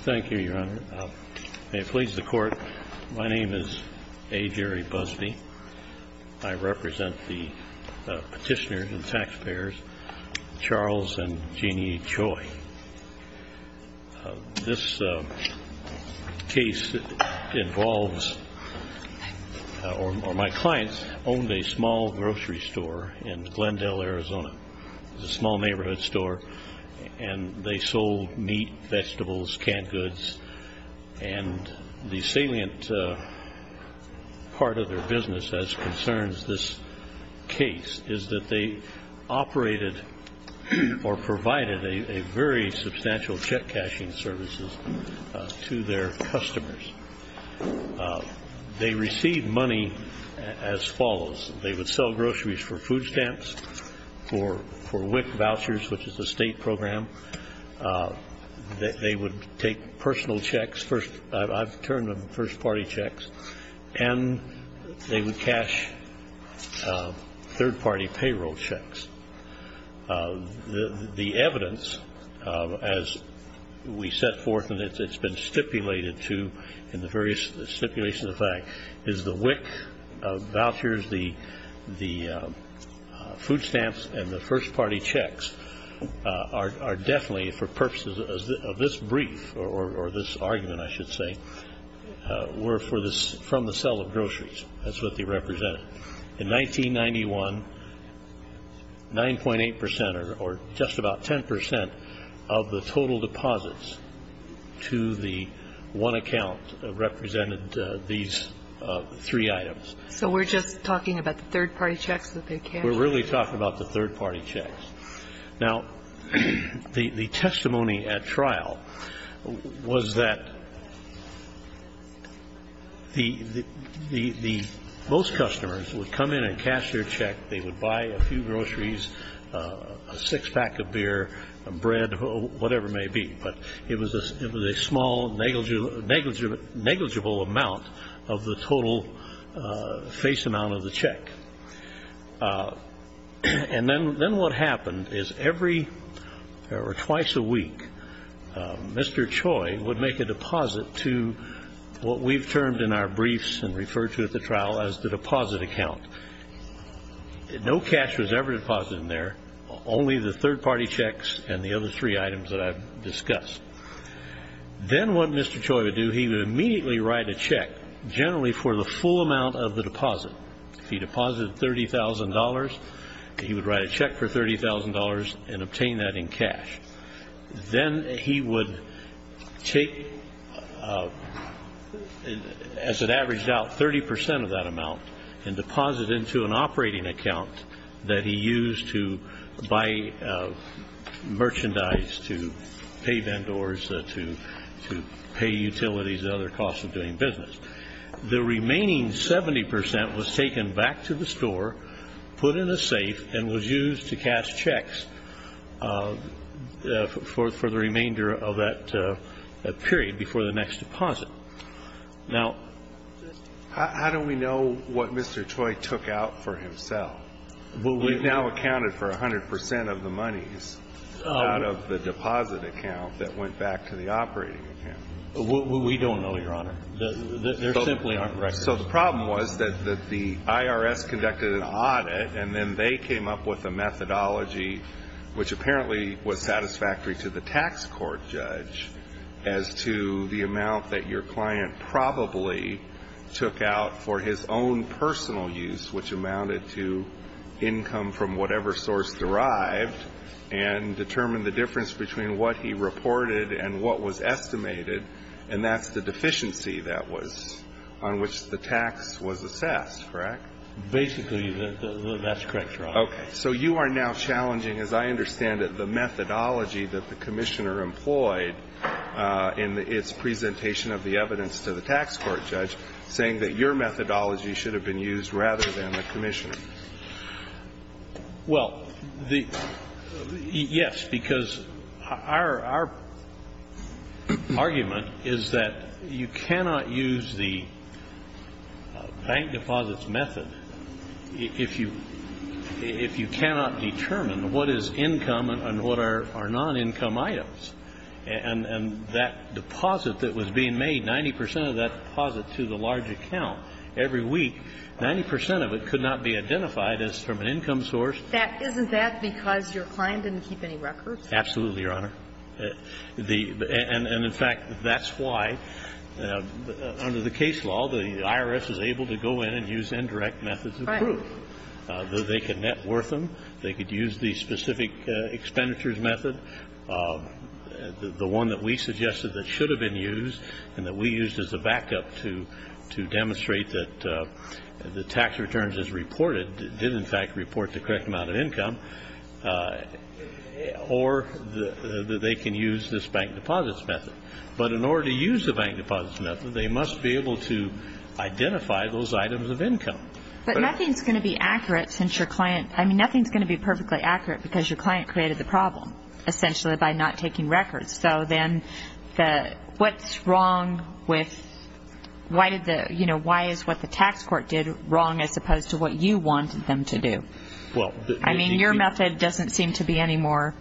Thank you, Your Honor. May it please the Court, my name is A. Jerry Busby. I represent the petitioners and taxpayers, Charles and Jeannie Choi. This case involves, or my clients, owned a small grocery store in Glendale, Arizona. It was a small neighborhood store and they sold meat, vegetables, canned goods. The salient part of their business as concerns this case is that they operated or provided a very substantial check cashing service to their customers. They received money as follows. They would sell groceries for food stamps, for WIC vouchers, which is a state program. They would take personal checks, I've termed them first party checks, and they would cash third party payroll checks. The evidence, as we set forth and it's been stipulated to in the various stipulations of the fact, is the WIC vouchers, the food stamps, and the first party checks are definitely for purposes of this brief, or this argument I should say, were from the sale of groceries. That's what they represented. In 1991, 9.8% or just about 10% of the total deposits to the one account represented these three items. So we're just talking about the third party checks that they cashed? We're really talking about the third party checks. Now, the testimony at trial was that most customers would come in and cash their check. They would buy a few groceries, a six pack of beer, a bread, whatever it may be, but it was a small negligible amount of the total face amount of the check. And then what happened is every, or twice a week, Mr. Choi would make a deposit to what we've termed in our briefs and referred to at the trial as the deposit account. No cash was ever deposited in there, only the third party checks and the other three items that I've discussed. Then what Mr. Choi would do, he would immediately write a check, generally for the full amount of the deposit. If he deposited $30,000, he would write a check for $30,000 and obtain that in cash. Then he would take, as it averaged out, 30% of that amount and deposit it into an operating account that he used to buy merchandise, to pay vendors, to pay utilities and other costs of doing business. The remaining 70% was taken back to the store, put in a safe, and was used to cash checks for the remainder of that period before the next deposit. Now, How do we know what Mr. Choi took out for himself? We've now accounted for 100% of the monies out of the deposit account that went back to the operating account. We don't know, Your Honor. There simply aren't records. So the problem was that the IRS conducted an audit, and then they came up with a methodology which apparently was satisfactory to the tax court judge as to the amount that your client probably took out for his own personal use, which amounted to income from whatever source derived, and determined the difference between what he reported and what was estimated. And that's the deficiency that was on which the tax was assessed, correct? Basically, that's correct, Your Honor. Okay. So you are now challenging, as I understand it, the methodology that the Commissioner employed in its presentation of the evidence to the tax court judge, saying that your methodology should have been used rather than the Commissioner's. Well, yes, because our argument is that you cannot use the bank deposits method if you cannot determine what is income and what are non-income items. And that deposit that was being made, 90% of that deposit to the large account every week, 90% of it could not be identified as from an income source. Isn't that because your client didn't keep any records? Absolutely, Your Honor. And in fact, that's why under the case law, the IRS is able to go in and use indirect methods of proof. Right. They can net worth them. They could use the specific expenditures method, the one that we suggested that should have been used and that we used as a backup to demonstrate that the tax returns is reported, did in fact report the correct amount of income, or that they can use this bank deposits method. But in order to use the bank deposits method, they must be able to identify those items of income. But nothing is going to be accurate since your client, I mean, nothing is going to be perfectly accurate because your client created the problem, essentially by not taking records. So then, what's wrong with, why is what the tax court did wrong as opposed to what you wanted them to do? I mean, your method doesn't seem to be any more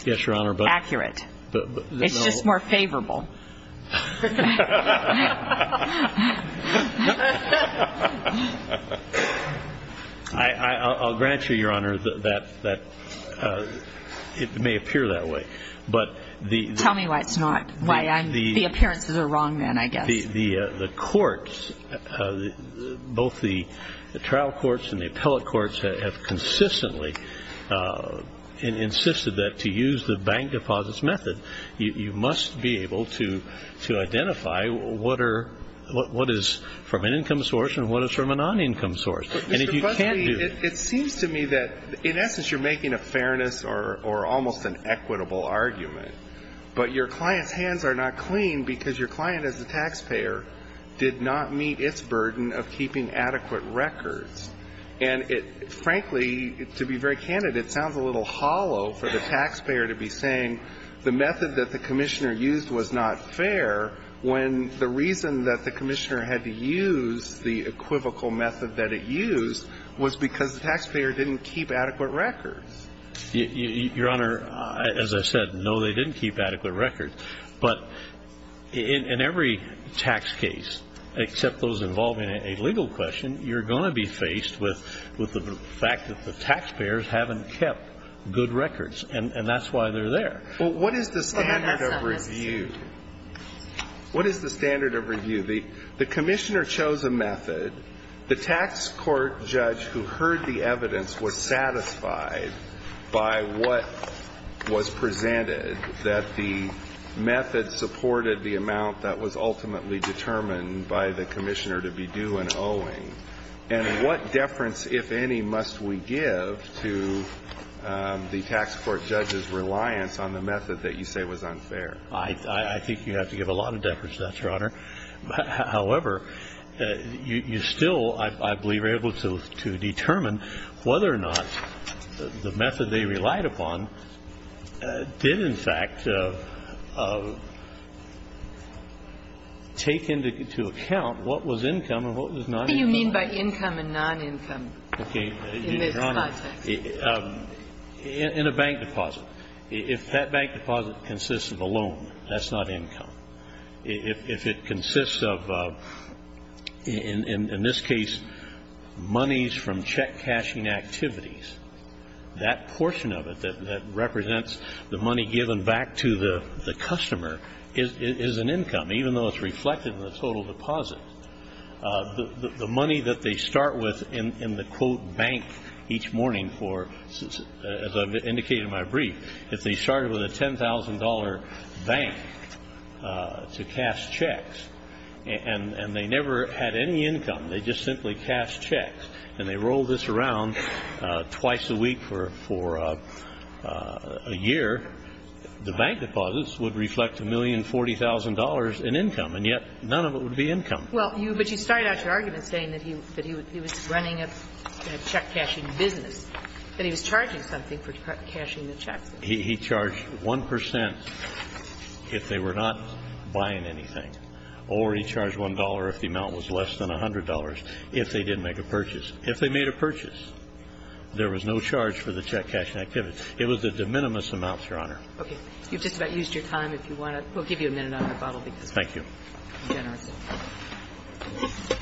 accurate. Yes, Your Honor, but... It's just more favorable. I'll grant you, Your Honor, that it may appear that way. But the fact that the IRS is saying, well, tell me why it's not, why the appearances are wrong then, I guess. The courts, both the trial courts and the appellate courts have consistently insisted that to use the bank deposits method, you must be able to identify what is from an income source and what is from a non-income source. And if you can't do it... Well, that's a good question, or almost an equitable argument. But your client's hands are not clean because your client as a taxpayer did not meet its burden of keeping adequate records. And it, frankly, to be very candid, it sounds a little hollow for the taxpayer to be saying the method that the commissioner used was not fair when the reason that the commissioner had to use the equivocal method that it used was because the taxpayer didn't keep adequate records. Your Honor, as I said, no, they didn't keep adequate records. But in every tax case, except those involving a legal question, you're going to be faced with the fact that the taxpayers haven't kept good records. And that's why they're there. Well, what is the standard of review? What is the standard of review? The commissioner chose a method. The tax court judge who heard the evidence was satisfied by what was presented, that the method supported the amount that was ultimately determined by the commissioner to be due and owing. And what deference, if any, must we give to the tax court judge's reliance on the method that you say was unfair? I think you have to give a lot of deference to that, Your Honor. However, you still, I believe, are able to determine whether or not the method they relied upon did, in fact, take into account what was income and what was non-income. What do you mean by income and non-income in this context? In a bank deposit. If that bank deposit consists of a loan, that's not income. If it consists of, in this case, monies from check-cashing activities, that portion of it that represents the money given back to the customer is an income, even though it's reflected in the total deposit. The money that they start with in the, quote, as I've indicated in my brief, if they started with a $10,000 bank to cash checks and they never had any income, they just simply cashed checks and they rolled this around twice a week for a year, the bank deposits would reflect $1,040,000 in income, and yet none of it would be income. Well, but you started out your argument saying that he was running a check-cashing business, that he was charging something for cashing the checks. He charged 1 percent if they were not buying anything, or he charged $1 if the amount was less than $100 if they didn't make a purchase. If they made a purchase, there was no charge for the check-cashing activities. It was the de minimis amounts, Your Honor. Okay. You've just about used your time. If you want to, we'll give you a minute on the rebuttal because we're generous. Thank you.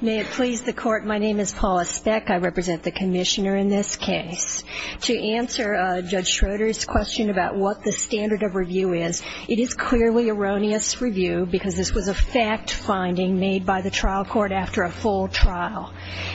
May it please the Court, my name is Paula Speck. I represent the Commissioner in this case. To answer Judge Schroeder's question about what the standard of review is, it is clearly erroneous review because this was a fact-finding made by the trial court after a full trial.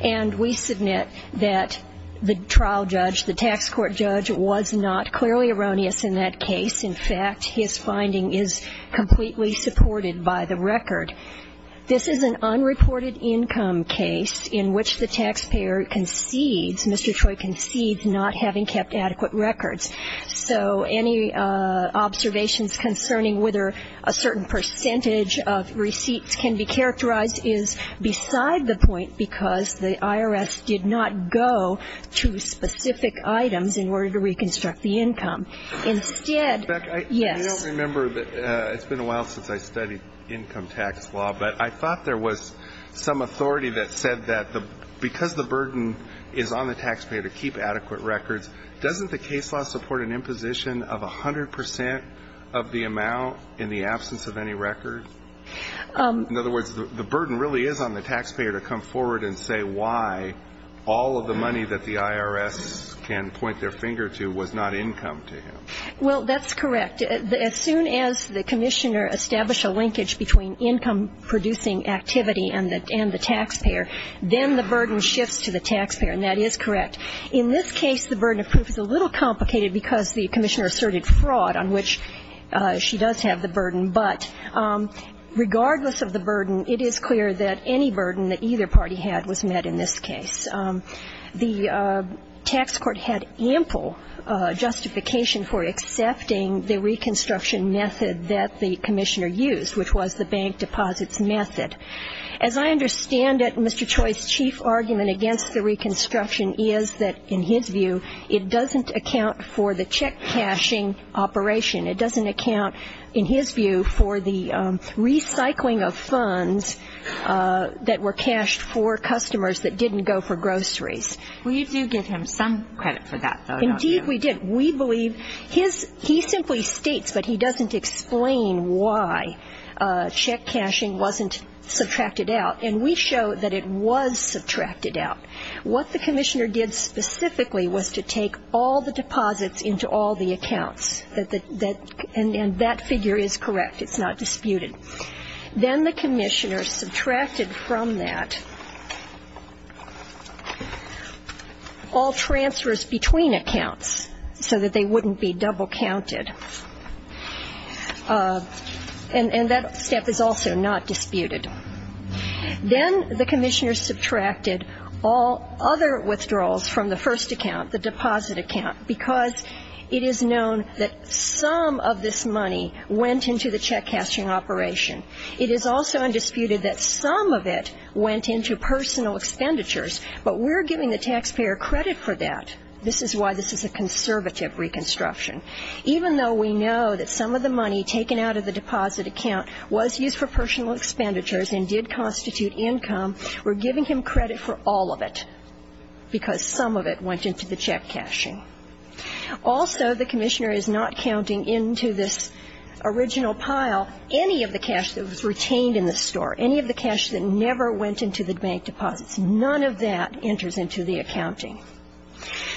And we submit that the trial judge, the tax court judge, was not clearly erroneous in that case. In fact, his finding is completely supported by the record. This is an unreported income case in which the taxpayer concedes, Mr. Troy concedes, not having kept adequate records. So any observations concerning whether a certain percentage of receipts can be retained are beside the point because the IRS did not go to specific items in order to reconstruct the income. Instead, yes. I don't remember. It's been a while since I studied income tax law, but I thought there was some authority that said that because the burden is on the taxpayer to keep adequate records, doesn't the case law support an imposition of 100 percent of the amount in the absence of any records? In other words, the burden really is on the taxpayer to come forward and say why all of the money that the IRS can point their finger to was not income to him. Well, that's correct. As soon as the commissioner established a linkage between income-producing activity and the taxpayer, then the burden shifts to the taxpayer, and that is correct. In this case, the burden of proof is a little complicated because the commissioner asserted fraud, on which she does have the burden. But regardless of the burden, it is clear that any burden that either party had was met in this case. The tax court had ample justification for accepting the reconstruction method that the commissioner used, which was the bank deposits method. As I understand it, Mr. Troy's chief argument against the reconstruction is that, in his view, it doesn't account for the check-cashing operation. It doesn't account, in his view, for the recycling of funds that were cashed for customers that didn't go for groceries. We do give him some credit for that, though, don't we? Indeed, we do. He simply states, but he doesn't explain why check-cashing wasn't subtracted out. What the commissioner did specifically was to take all the deposits into all the accounts, and that figure is correct. It's not disputed. Then the commissioner subtracted from that all transfers between accounts so that they wouldn't be double-counted, and that step is also not disputed. Then the commissioner subtracted all other withdrawals from the first account, the deposit account, because it is known that some of this money went into the check-cashing operation. It is also undisputed that some of it went into personal expenditures, but we're giving the taxpayer credit for that. This is why this is a conservative reconstruction. Even though we know that some of the money taken out of the deposit account was used for personal expenditures and did constitute income, we're giving him credit for all of it, because some of it went into the check-cashing. Also, the commissioner is not counting into this original pile any of the cash that was retained in the store, any of the cash that never went into the bank deposits. None of that enters into the accounting.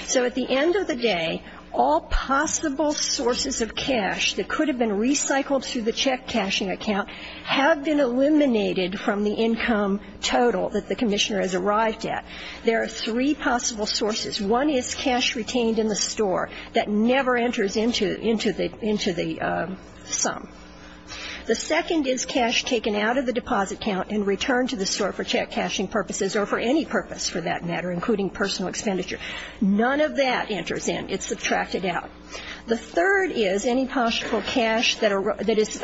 So at the end of the day, all possible sources of cash that could have been recycled through the check-cashing account have been eliminated from the income total that the commissioner has arrived at. There are three possible sources. One is cash retained in the store that never enters into the sum. The second is cash taken out of the deposit account and returned to the store for check-cashing purposes or for any purpose, for that matter, including personal expenditure. None of that enters in. It's subtracted out. The third is any possible cash that is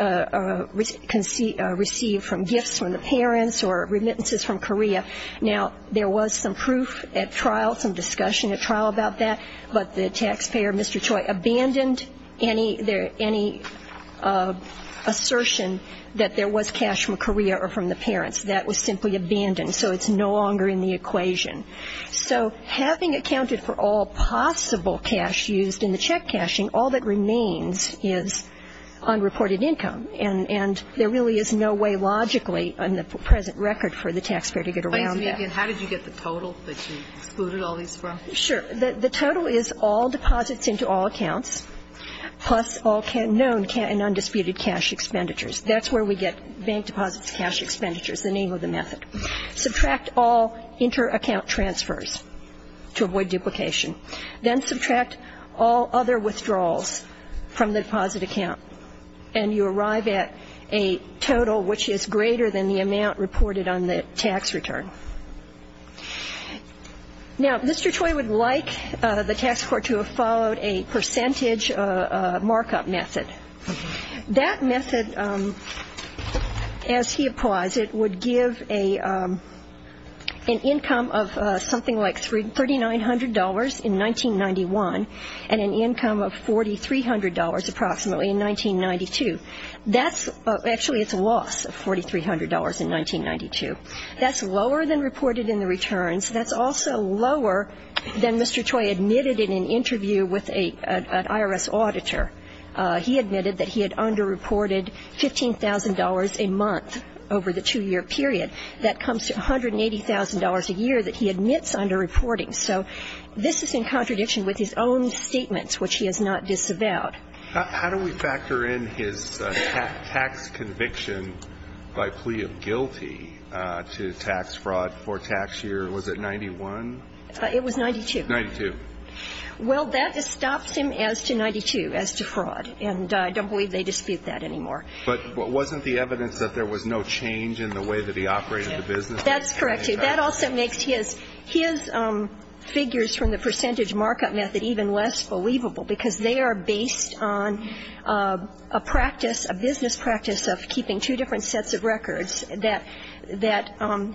received from gifts from the parents or remittances from Korea. Now, there was some proof at trial, some discussion at trial about that, but the taxpayer, Mr. Choi, abandoned any assertion that there was cash from Korea or from the parents. That was simply abandoned. So it's no longer in the equation. So having accounted for all possible cash used in the check-cashing, all that remains is unreported income. And there really is no way logically on the present record for the taxpayer to get around that. How did you get the total that you excluded all these from? Sure. The total is all deposits into all accounts, plus all known and undisputed cash expenditures. That's where we get bank deposits, cash expenditures, the name of the method. Subtract all inter-account transfers to avoid duplication. Then subtract all other withdrawals from the deposit account, and you arrive at a total which is greater than the amount reported on the tax return. Now, Mr. Choi would like the tax court to have followed a percentage markup method. That method, as he applies it, would give an income of something like $3,900 in 1991 and an income of $4,300 approximately in 1992. That's actually its loss of $4,300 in 1992. That's lower than reported in the returns. That's also lower than Mr. Choi admitted in an interview with an IRS auditor. He admitted that he had underreported $15,000 a month over the two-year period. That comes to $180,000 a year that he admits underreporting. So this is in contradiction with his own statements, which he has not disavowed. How do we factor in his tax conviction by plea of guilty to tax fraud for tax year? Was it 91? It was 92. 92. Well, that stops him as to 92, as to fraud. And I don't believe they dispute that anymore. But wasn't the evidence that there was no change in the way that he operated the business? That's correct. That also makes his figures from the percentage markup method even less believable, because they are based on a practice, a business practice of keeping two different sets of records that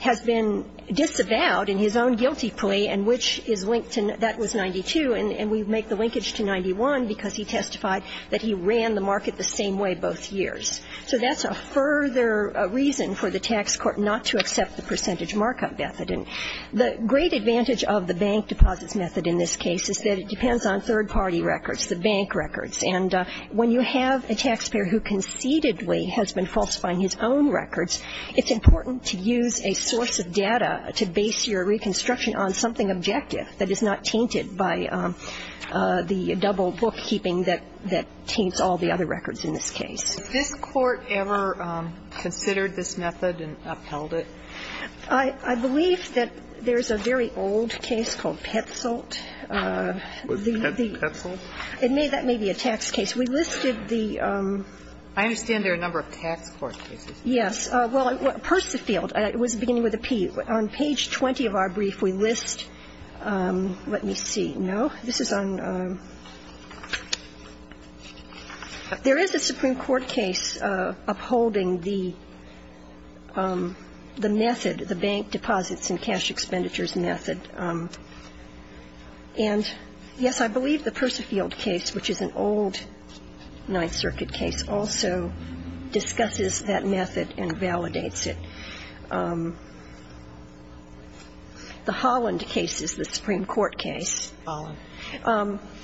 has been disavowed in his own guilty plea, and which is linked to, that was 92, and we make the linkage to 91 because he testified that he ran the market the same way both years. So that's a further reason for the tax court not to accept the percentage markup method. And the great advantage of the bank deposits method in this case is that it depends on third-party records, the bank records. And when you have a taxpayer who conceitedly has been falsifying his own records, it's important to use a source of data to base your reconstruction on something objective that is not tainted by the double bookkeeping that taints all the other records in this case. Has this Court ever considered this method and upheld it? I believe that there's a very old case called Petzoldt. Petzoldt? That may be a tax case. We listed the ---- I understand there are a number of tax court cases. Yes. Well, Persefield. It was beginning with a P. On page 20 of our brief, we list ---- let me see. No? This is on ---- There is a Supreme Court case upholding the method, the bank deposits and cash expenditures method. And, yes, I believe the Persefield case, which is an old Ninth Circuit case, also discusses that method and validates it. The Holland case is the Supreme Court case. Holland.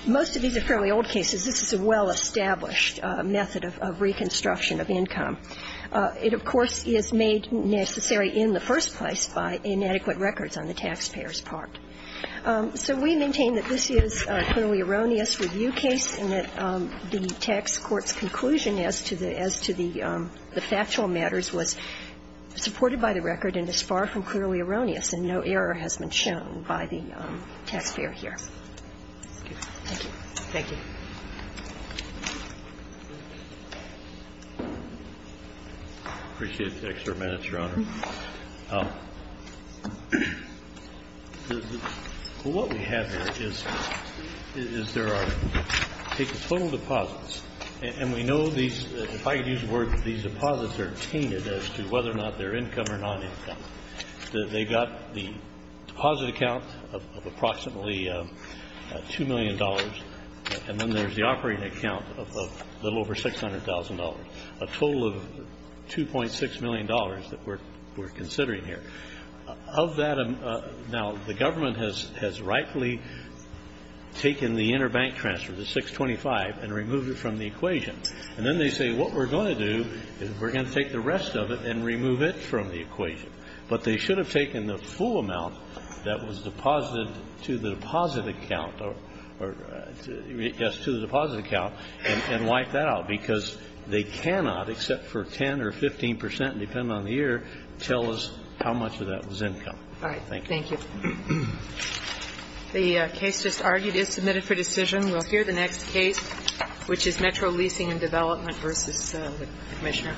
Most of these are fairly old cases. This is a well-established method of reconstruction of income. It, of course, is made necessary in the first place by inadequate records on the taxpayer's part. So we maintain that this is a clearly erroneous review case and that the tax court's conclusion as to the factual matters was supported by the record and is far from clearly erroneous, and no error has been shown by the taxpayer here. Thank you. Thank you. I appreciate the extra minutes, Your Honor. What we have here is there are total deposits, and we know these, if I could use the word, these deposits are tainted as to whether or not they're income or non-income. They've got the deposit account of approximately $2 million, and then there's the operating account of a little over $600,000, a total of $2.6 million that we're considering here. Of that, now, the government has rightfully taken the interbank transfer, the 625, and removed it from the equation. And then they say, what we're going to do is we're going to take the rest of it and remove it from the equation. But they should have taken the full amount that was deposited to the deposit account or, yes, to the deposit account and wiped that out, because they cannot, except for tell us how much of that was income. All right. Thank you. Thank you. The case just argued is submitted for decision. We'll hear the next case, which is Metro Leasing and Development v. Commissioner. Thank you.